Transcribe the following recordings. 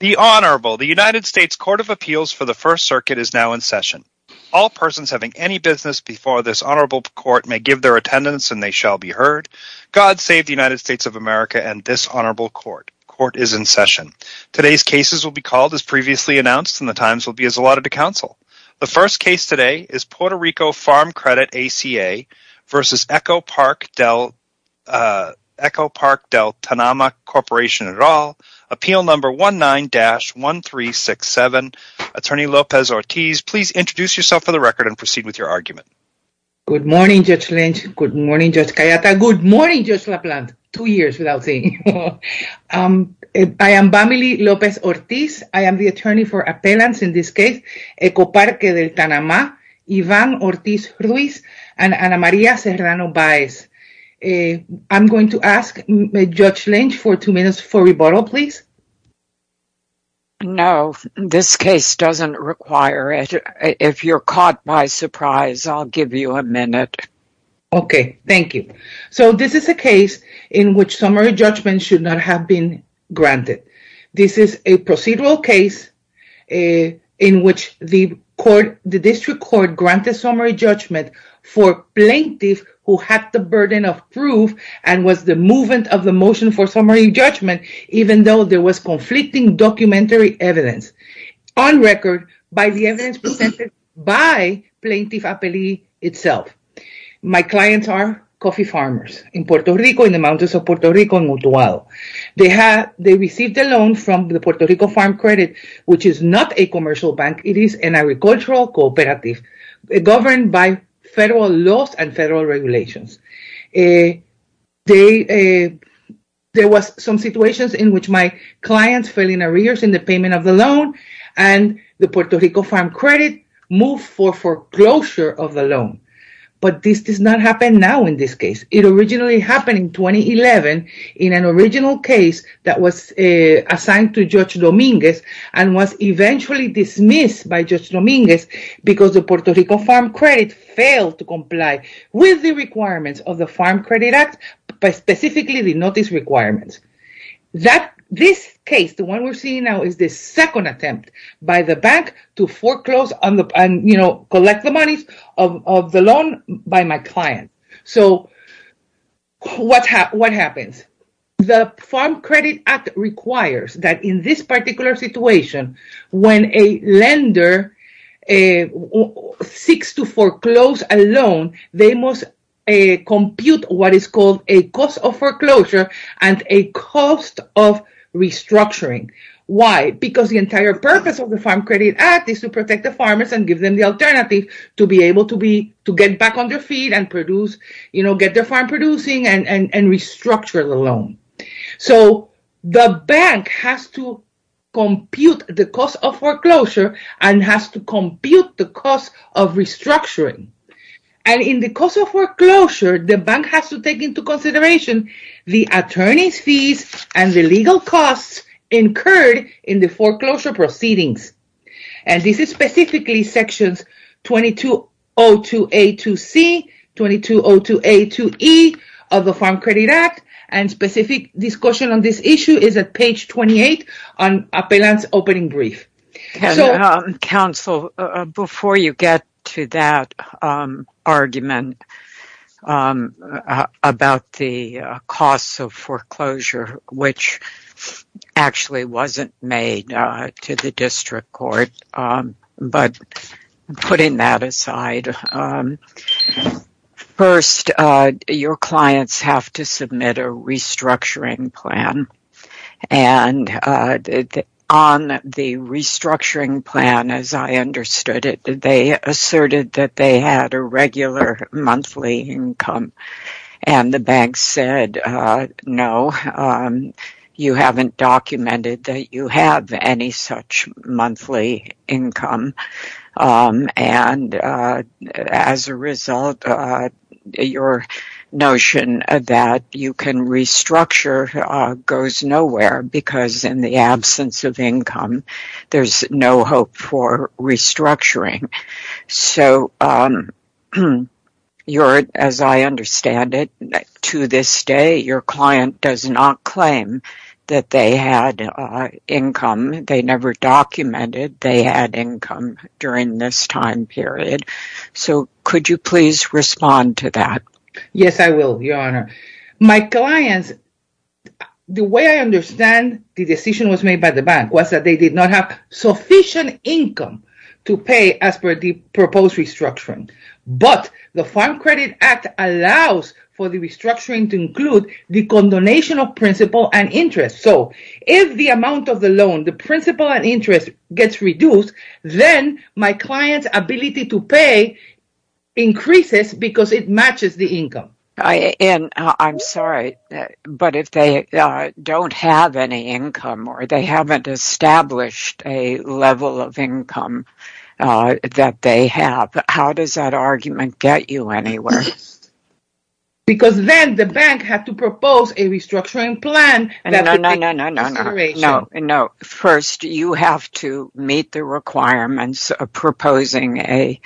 The Honorable, the United States Court of Appeals for the First Circuit is now in session. All persons having any business before this Honorable Court may give their attendance and they shall be heard. God save the United States of America and this Honorable Court. Court is in session. Today's cases will be called as previously announced and the times will be as allotted to counsel. The first case today is Puerto Rico Farm Credit, ACA v. Eco-Parque del Tanama Corporation et al., Appeal Number 19-1367. Attorney Lopez-Ortiz, please introduce yourself for the record and proceed with your argument. Good morning, Judge Lynch. Good morning, Judge Cayetano. Good morning, Judge LaPlante. Two years without seeing you. I am Vamily Lopez-Ortiz. I am the attorney for appellants in this case, Eco-Parque del Tanama, Ivan Ortiz Ruiz and Ana Maria Serrano Baez. I'm going to ask Judge Lynch for two minutes for rebuttal, please. No, this case doesn't require it. If you're caught by surprise, I'll give you a minute. Okay, thank you. So this is a case in which summary judgment should not have been granted. This is a procedural case in which the District Court granted summary judgment for plaintiffs who had the burden of proof and was the movement of the motion for summary judgment, even though there was conflicting documentary evidence. On record, by the evidence presented by Plaintiff Appellee itself. My clients are coffee farmers in Puerto Rico, in the mountains of Puerto Rico, in Utuado. They received a loan from the Puerto Rico Farm Credit, which is not a commercial bank. It is an agricultural cooperative governed by federal laws and federal regulations. There was some situations in which my clients fell in arrears in the payment of the loan and the Puerto Rico Farm Credit moved for foreclosure of the loan. But this does not happen now in this case. It originally happened in 2011 in an original case that was assigned to Judge Dominguez and was eventually dismissed by Judge Dominguez because the Puerto Rico Farm Credit failed to comply with the requirements of the Farm Credit Act, but specifically the notice requirements. That this case, the one we're seeing now is the second attempt by the bank to foreclose and collect the monies of the loan by my client. So what happens? The Farm Credit Act requires that in this particular situation, when a lender seeks to foreclose a loan, they must compute what is called a cost of foreclosure and a cost of restructuring. Why? Because the entire purpose of the Farm Credit Act is to protect the farmers and give them the alternative to be able to get back on their feet and get their farm producing and their loan. So the bank has to compute the cost of foreclosure and has to compute the cost of restructuring. And in the cost of foreclosure, the bank has to take into consideration the attorney's fees and the legal costs incurred in the foreclosure proceedings. And this is specifically sections 2202A-C, 2202A-E of the Farm Credit Act. And specific discussion on this issue is at page 28 on Appellant's Opening Brief. Counsel, before you get to that argument about the cost of foreclosure, which actually wasn't made to the district court, but putting that aside, first, your clients have to submit a restructuring plan. And on the restructuring plan, as I understood it, they asserted that they had a regular monthly income. And the bank said, no, you haven't documented that you have any such monthly income. And as a result, your notion that you can restructure goes nowhere, because in the absence of income, there's no hope for restructuring. So, as I understand it, to this day, your client does not claim that they had income. They never documented they had income during this time period. So could you please respond to that? Yes, I will, Your Honor. My clients, the way I understand the decision was made by the bank was that they did not have sufficient income to pay as per the proposed restructuring. But the Farm Credit Act allows for the restructuring to include the condonation of principal and interest. So if the amount of the loan, the principal and interest, gets reduced, then my client's And I'm sorry, but if they don't have any income, or they haven't established a level of income that they have, how does that argument get you anywhere? Because then the bank had to propose a restructuring plan that could be consideration. No, first, you have to meet the requirements of proposing a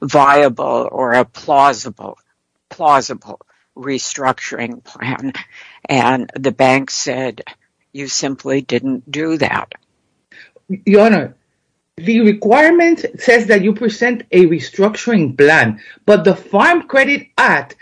viable or a plausible restructuring plan, and the bank said you simply didn't do that. Your Honor, the requirement says that you present a restructuring plan. But the Farm Credit Act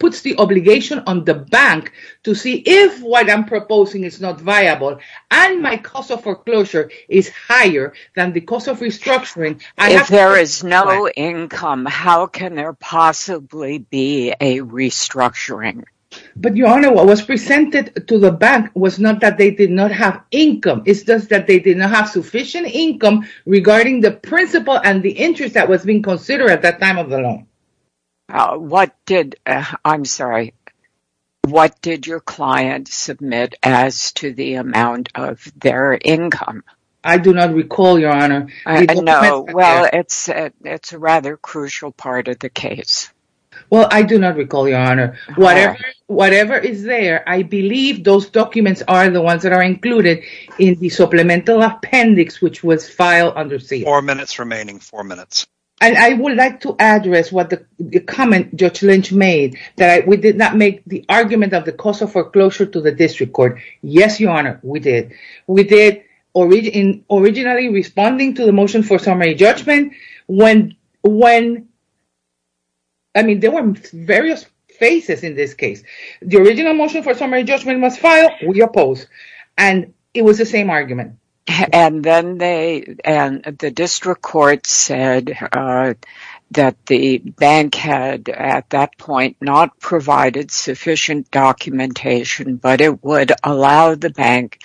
puts the obligation on the bank to see if what I'm proposing is not viable, and my cost of foreclosure is higher than the cost of restructuring. If there is no income, how can there possibly be a restructuring? But Your Honor, what was presented to the bank was not that they did not have income. It's just that they did not have sufficient income regarding the principal and the interest that was being considered at that time of the loan. What did your client submit as to the amount of their income? I do not recall, Your Honor. I know. Well, it's a rather crucial part of the case. Well, I do not recall, Your Honor. Whatever is there, I believe those documents are the ones that are included in the supplemental appendix which was filed under seal. Four minutes remaining. Four minutes. And I would like to address what the comment Judge Lynch made, that we did not make the argument of the cost of foreclosure to the district court. Yes, Your Honor, we did. We did originally responding to the motion for summary judgment when, I mean, there were various phases in this case. The original motion for summary judgment was filed. We opposed. And it was the same argument. And the district court said that the bank had, at that point, not provided sufficient documentation, but it would allow the bank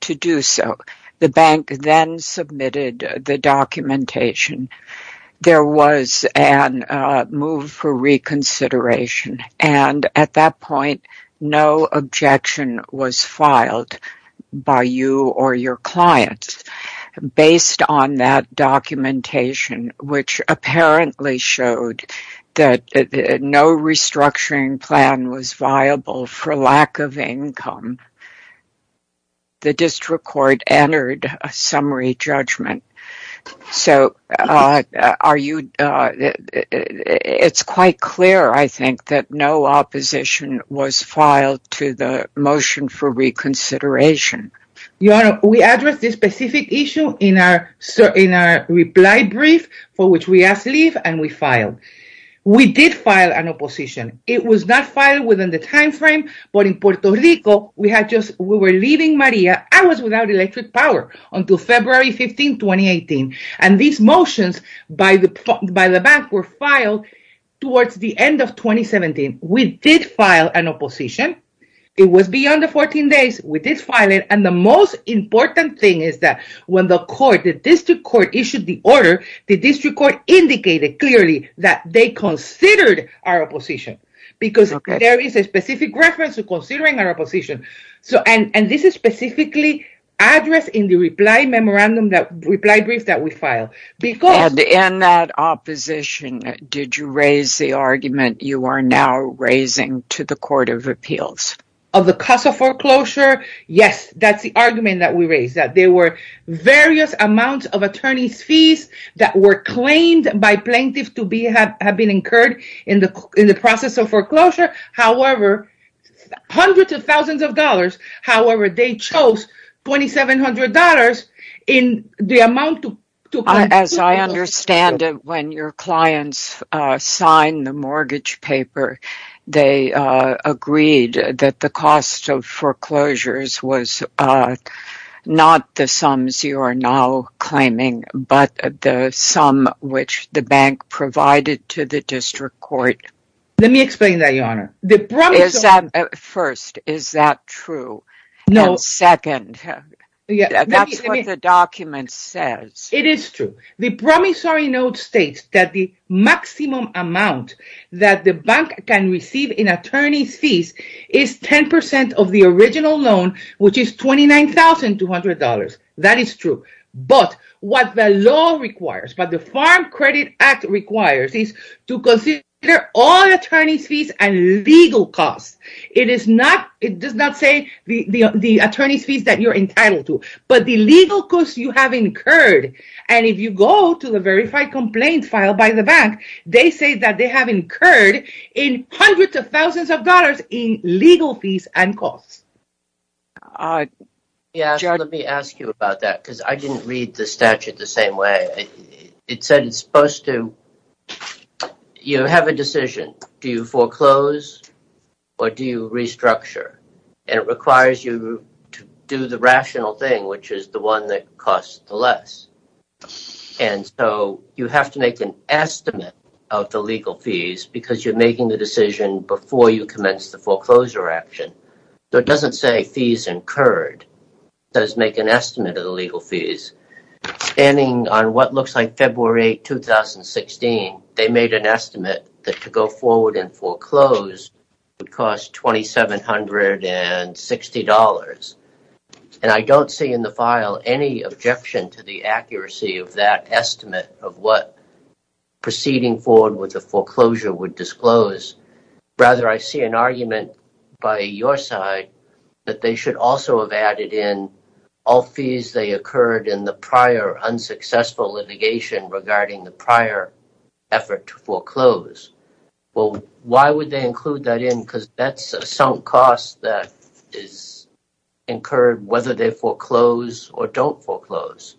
to do so. The bank then submitted the documentation. There was a move for reconsideration, and at that point, no objection was filed by you or your clients. Based on that documentation, which apparently showed that no restructuring plan was viable for lack of income, the district court entered a summary judgment. So it's quite clear, I think, that no opposition was filed to the motion for reconsideration. Your Honor, we addressed this specific issue in our reply brief, for which we asked leave, and we filed. We did file an opposition. It was not filed within the timeframe, but in Puerto Rico, we were leaving Maria hours without electric power until February 15, 2018. And these motions by the bank were filed towards the end of 2017. We did file an opposition. It was beyond the 14 days. We did file it. And the most important thing is that when the district court issued the order, the district court indicated clearly that they considered our opposition, because there is a specific reference to considering our opposition. And this is specifically addressed in the reply brief that we filed. And in that opposition, did you raise the argument you are now raising to the Court of Appeals? Of the cost of foreclosure? Yes, that's the argument that we raised, that there were various amounts of attorney's fees that were claimed by plaintiffs to have been incurred in the process of foreclosure. However, hundreds of thousands of dollars, however, they chose $2,700 in the amount to pay. As I understand it, when your clients signed the mortgage paper, they agreed that the cost of foreclosures was not the sums you are now claiming, but the sum which the bank provided to the district court. Let me explain that, Your Honor. First, is that true? And second, that's what the document says. It is true. The promissory note states that the maximum amount that the bank can receive in attorney's fees is 10% of the original loan, which is $29,200. That is true. But what the law requires, what the Farm Credit Act requires, is to consider all attorney's fees and legal costs. It does not say the attorney's fees that you're entitled to, but the legal costs you have incurred. And if you go to the verified complaint file by the bank, they say that they have incurred in hundreds of thousands of dollars in legal fees and costs. Your Honor, let me ask you about that, because I didn't read the statute the same way. It said it's supposed to, you have a decision, do you foreclose or do you restructure? And it requires you to do the rational thing, which is the one that costs the less. And so, you have to make an estimate of the legal fees, because you're making the decision before you commence the foreclosure action. So it doesn't say fees incurred, it says make an estimate of the legal fees, standing on what looks like February 8, 2016, they made an estimate that to go forward and foreclose would cost $2,760. And I don't see in the file any objection to the accuracy of that estimate of what proceeding forward with the foreclosure would disclose. Rather, I see an argument by your side that they should also have added in all fees they incurred in the prior unsuccessful litigation regarding the prior effort to foreclose. Well, why would they include that in? Because that's a sunk cost that is incurred whether they foreclose or don't foreclose.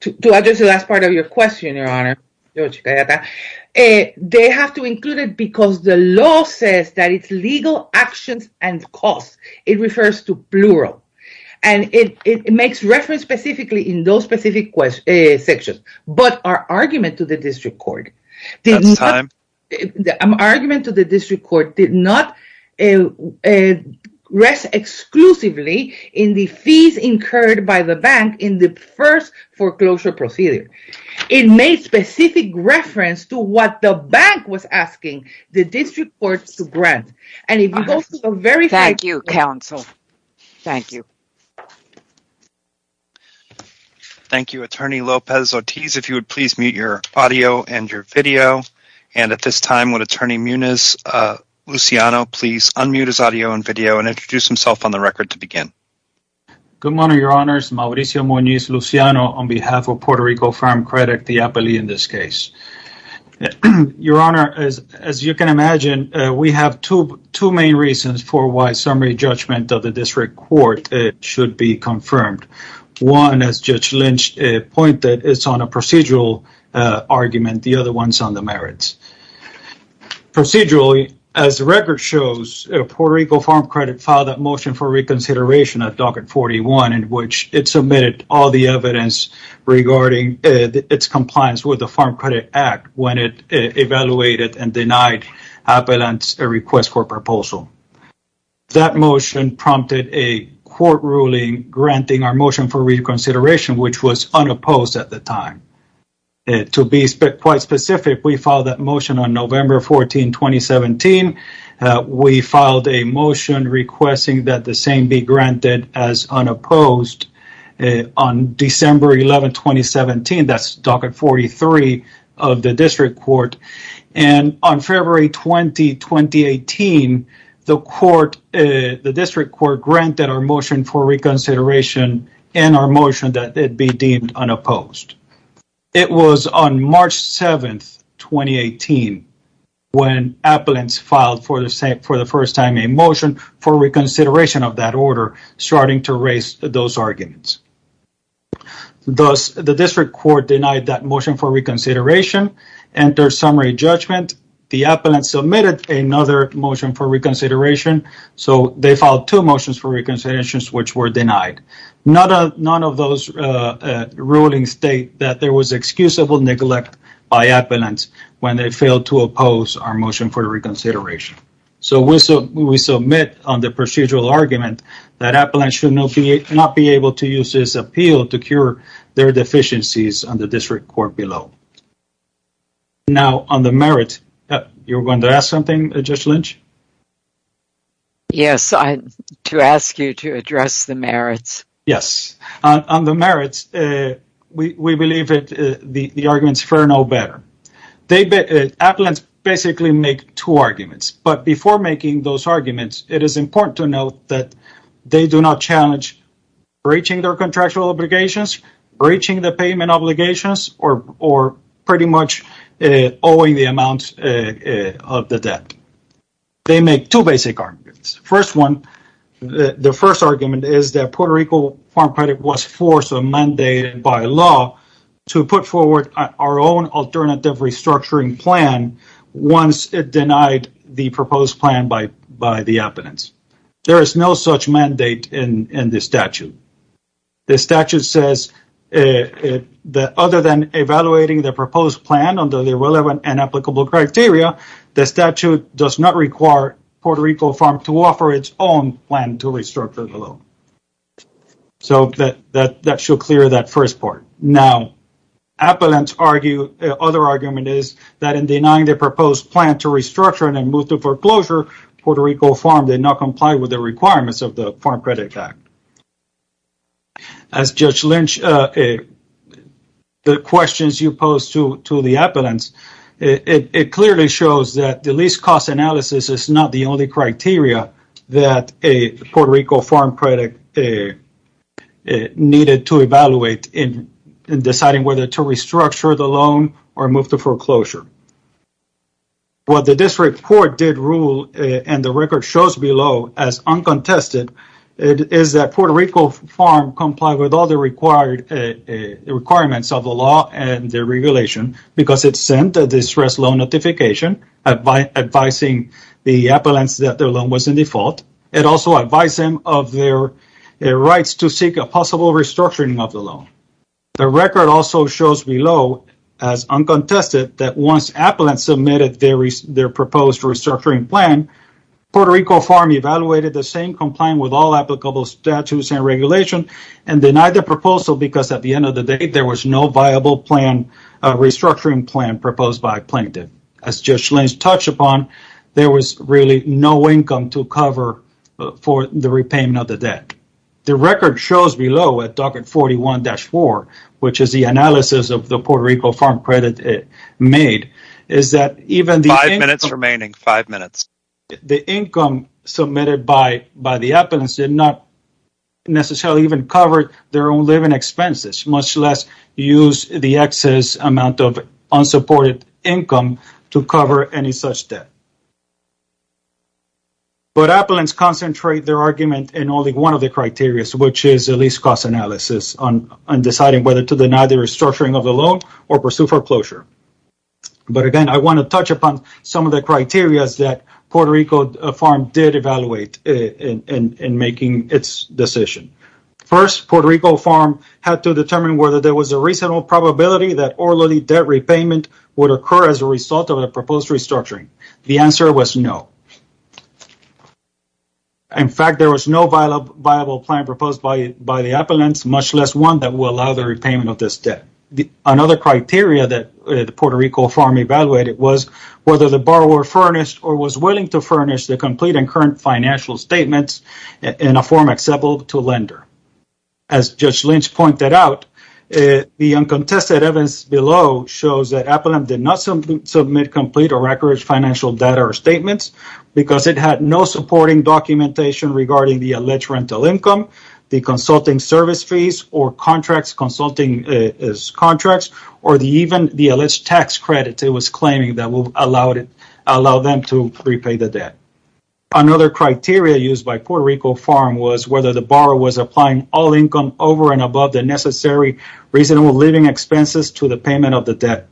To address the last part of your question, Your Honor, they have to include it because the law says that it's legal actions and costs. It refers to plural, and it makes reference specifically in those specific sections. But our argument to the District Court did not rest exclusively in the fees incurred by the bank in the first foreclosure procedure. It made specific reference to what the bank was asking the District Court to grant. And if you go to the very- Thank you, counsel. Thank you. Thank you, Attorney Lopez-Otiz. If you would please mute your audio and your video. And at this time, would Attorney Muniz-Luciano please unmute his audio and video and introduce himself on the record to begin. Good morning, Your Honors. Mauricio Muniz-Luciano on behalf of Puerto Rico Farm Credit, the APELI in this case. Your Honor, as you can imagine, we have two main reasons for why summary judgment of the APELI should be confirmed. One, as Judge Lynch pointed, it's on a procedural argument. The other one's on the merits. Procedurally, as the record shows, Puerto Rico Farm Credit filed that motion for reconsideration at Docket 41 in which it submitted all the evidence regarding its compliance with the Farm Credit Act when it evaluated and denied APELI's request for proposal. That motion prompted a court ruling granting our motion for reconsideration, which was unopposed at the time. To be quite specific, we filed that motion on November 14, 2017. We filed a motion requesting that the same be granted as unopposed on December 11, 2017. That's Docket 43 of the district court. On February 20, 2018, the district court granted our motion for reconsideration and our motion that it be deemed unopposed. It was on March 7, 2018, when APELIN filed for the first time a motion for reconsideration of that order, starting to raise those arguments. Thus, the district court denied that motion for reconsideration, entered summary judgment. The APELIN submitted another motion for reconsideration, so they filed two motions for reconsideration, which were denied. None of those rulings state that there was excusable neglect by APELIN when they failed to oppose our motion for reconsideration. So we submit on the procedural argument that APELIN should not be able to use this appeal to cure their deficiencies on the district court below. Now on the merits, you were going to ask something, Judge Lynch? Yes, to ask you to address the merits. Yes. On the merits, we believe that the arguments fair no better. APELIN basically makes two arguments, but before making those arguments, it is important to note that they do not challenge breaching their contractual obligations, breaching the payment obligations, or pretty much owing the amount of the debt. They make two basic arguments. First one, the first argument is that Puerto Rico Farm Credit was forced or mandated by to put forward our own alternative restructuring plan once it denied the proposed plan by the appellants. There is no such mandate in the statute. The statute says that other than evaluating the proposed plan under the relevant and applicable criteria, the statute does not require Puerto Rico Farm to offer its own plan to restructure the loan. So, that should clear that first part. Now, appellants argue, other argument is that in denying the proposed plan to restructure and then move to foreclosure, Puerto Rico Farm did not comply with the requirements of the Farm Credit Act. As Judge Lynch, the questions you posed to the appellants, it clearly shows that the credit needed to evaluate in deciding whether to restructure the loan or move to foreclosure. What the district court did rule, and the record shows below as uncontested, is that Puerto Rico Farm complied with all the requirements of the law and the regulation because it sent a distress loan notification advising the appellants that their loan was in default. It also advised them of their rights to seek a possible restructuring of the loan. The record also shows below, as uncontested, that once appellants submitted their proposed restructuring plan, Puerto Rico Farm evaluated the same complaint with all applicable statutes and regulations and denied the proposal because at the end of the day, there was no viable plan, restructuring plan proposed by plaintiff. As Judge Lynch touched upon, there was really no income to cover for the repayment of the debt. The record shows below at document 41-4, which is the analysis of the Puerto Rico Farm credit made, is that even the income submitted by the appellants did not necessarily even cover their own living expenses, much less use the excess amount of unsupported income to cover any such debt. But appellants concentrate their argument in only one of the criterias, which is the least cost analysis on deciding whether to deny the restructuring of the loan or pursue foreclosure. But again, I want to touch upon some of the criterias that Puerto Rico Farm did evaluate in making its decision. First, Puerto Rico Farm had to determine whether there was a reasonable probability that orally debt repayment would occur as a result of the proposed restructuring. The answer was no. In fact, there was no viable plan proposed by the appellants, much less one that will allow the repayment of this debt. Another criteria that Puerto Rico Farm evaluated was whether the borrower furnished or was As Judge Lynch pointed out, the uncontested evidence below shows that appellant did not submit complete or accurate financial data or statements because it had no supporting documentation regarding the alleged rental income, the consulting service fees, or contracts, consulting is contracts, or even the alleged tax credits it was claiming that will allow them to repay the debt. Another criteria used by Puerto Rico Farm was whether the borrower was applying all income over and above the necessary reasonable living expenses to the payment of the debt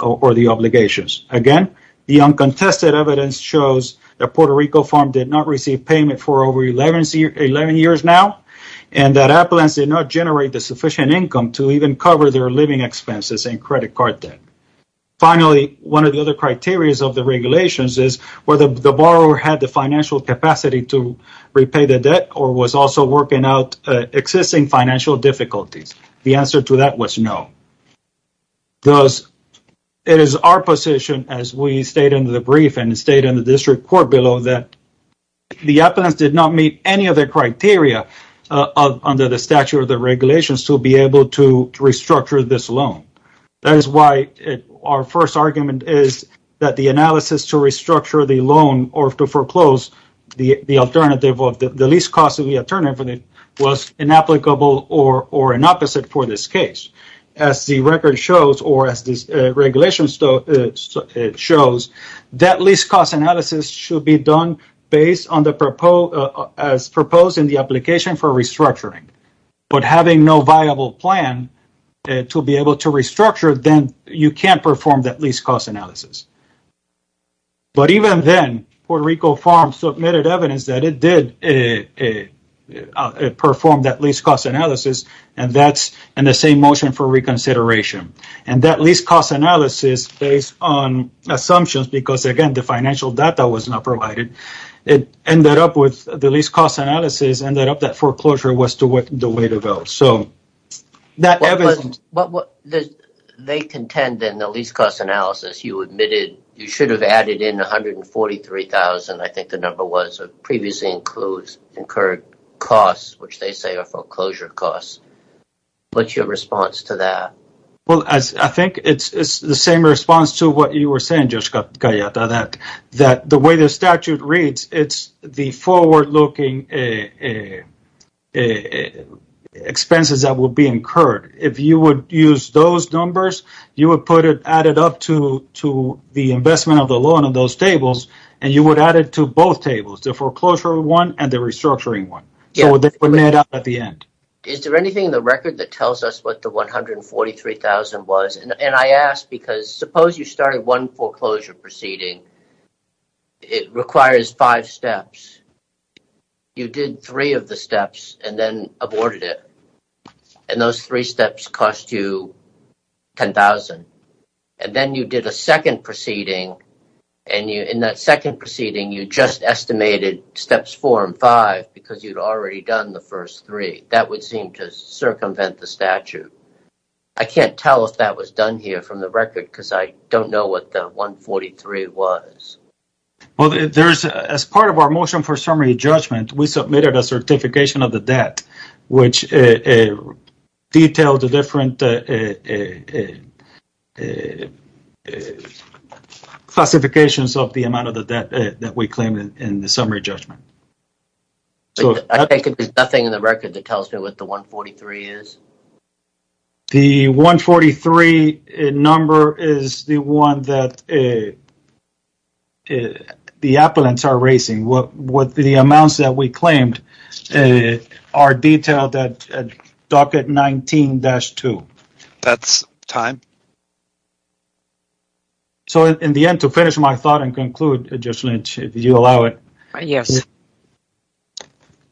or the obligations. Again, the uncontested evidence shows that Puerto Rico Farm did not receive payment for over 11 years now and that appellants did not generate the sufficient income to even cover their living expenses and credit card debt. Finally, one of the other criterias of the regulations is whether the borrower had the financial capacity to repay the debt or was also working out existing financial difficulties. The answer to that was no. Thus, it is our position as we state in the brief and state in the district court below that the appellants did not meet any of the criteria under the statute of the regulations to be able to restructure this loan. That is why our first argument is that the analysis to restructure the loan or to foreclose the alternative of the least cost of the alternative was inapplicable or an opposite for this case. As the record shows or as this regulation shows, that least cost analysis should be done based on the proposed as proposed in the application for restructuring, but having no viable plan to be able to restructure, then you cannot perform that least cost analysis. But even then, Puerto Rico Farm submitted evidence that it did perform that least cost analysis and that is in the same motion for reconsideration. And that least cost analysis based on assumptions because, again, the financial data was not provided, it ended up with the least cost analysis ended up that foreclosure was the way to go. They contend in the least cost analysis, you admitted you should have added in $143,000. I think the number was previously includes incurred costs, which they say are foreclosure costs. What is your response to that? Well, I think it is the same response to what you were saying, Judge Cayetana, that the way the statute reads, it is the forward-looking expenses that will be incurred. If you would use those numbers, you would add it up to the investment of the loan on those tables, and you would add it to both tables, the foreclosure one and the restructuring one. Is there anything in the record that tells us what the $143,000 was? Suppose you started one foreclosure proceeding it requires five steps. You did three of the steps and then aborted it, and those three steps cost you $10,000. And then you did a second proceeding, and in that second proceeding, you just estimated steps four and five because you had already done the first three. That would seem to circumvent the statute. I cannot tell if that was done here from the record because I do not know what the $143,000 was. Well, as part of our motion for summary judgment, we submitted a certification of the debt, which detailed the different classifications of the amount of the debt that we claim in the summary judgment. I take it there is nothing in the record that tells me what the $143,000 is? The $143,000 number is the one that the appellants are raising. The amounts that we claimed are detailed at docket 19-2. That's time. So, in the end, to finish my thought and conclude, Judge Lynch, if you allow it. Yes.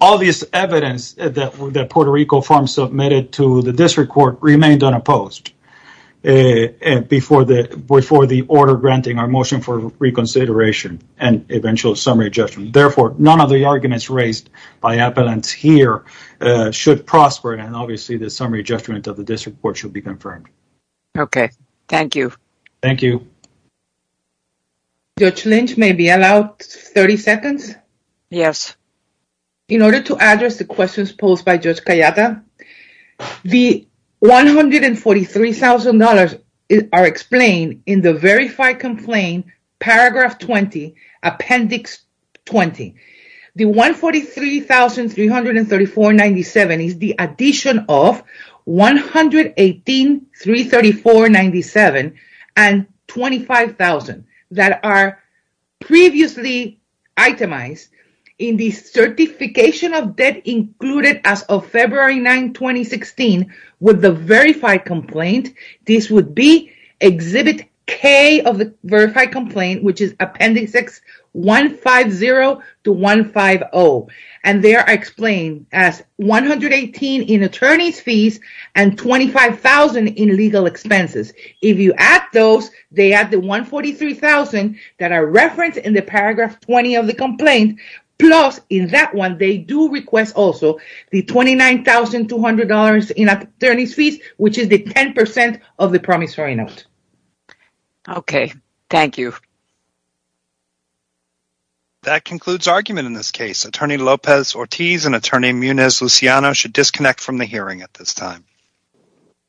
All this evidence that Puerto Rico Farm submitted to the district court remained unopposed before the order granting our motion for reconsideration and eventual summary judgment. Therefore, none of the arguments raised by appellants here should prosper, and obviously, the summary judgment of the district court should be confirmed. Okay. Thank you. Thank you. Judge Lynch, may I be allowed 30 seconds? Yes. In order to address the questions posed by Judge Cayatta, the $143,000 are explained in the verified complaint, paragraph 20, appendix 20. The $143,334.97 is the addition of $118,334.97 and $25,000 that are previously itemized in the certification of debt included as of February 9, 2016 with the verified complaint. This would be exhibit K of the verified complaint, which is appendix X150-150. And they are explained as $118,000 in attorney's fees and $25,000 in legal expenses. If you add those, they add the $143,000 that are referenced in the paragraph 20 of the complaint, plus in that one, they do request also the $29,200 in attorney's fees, which is the 10% of the promissory note. Okay. Thank you. That concludes argument in this case. Attorney Lopez-Ortiz and Attorney Munez-Luciano should disconnect from the hearing at this time.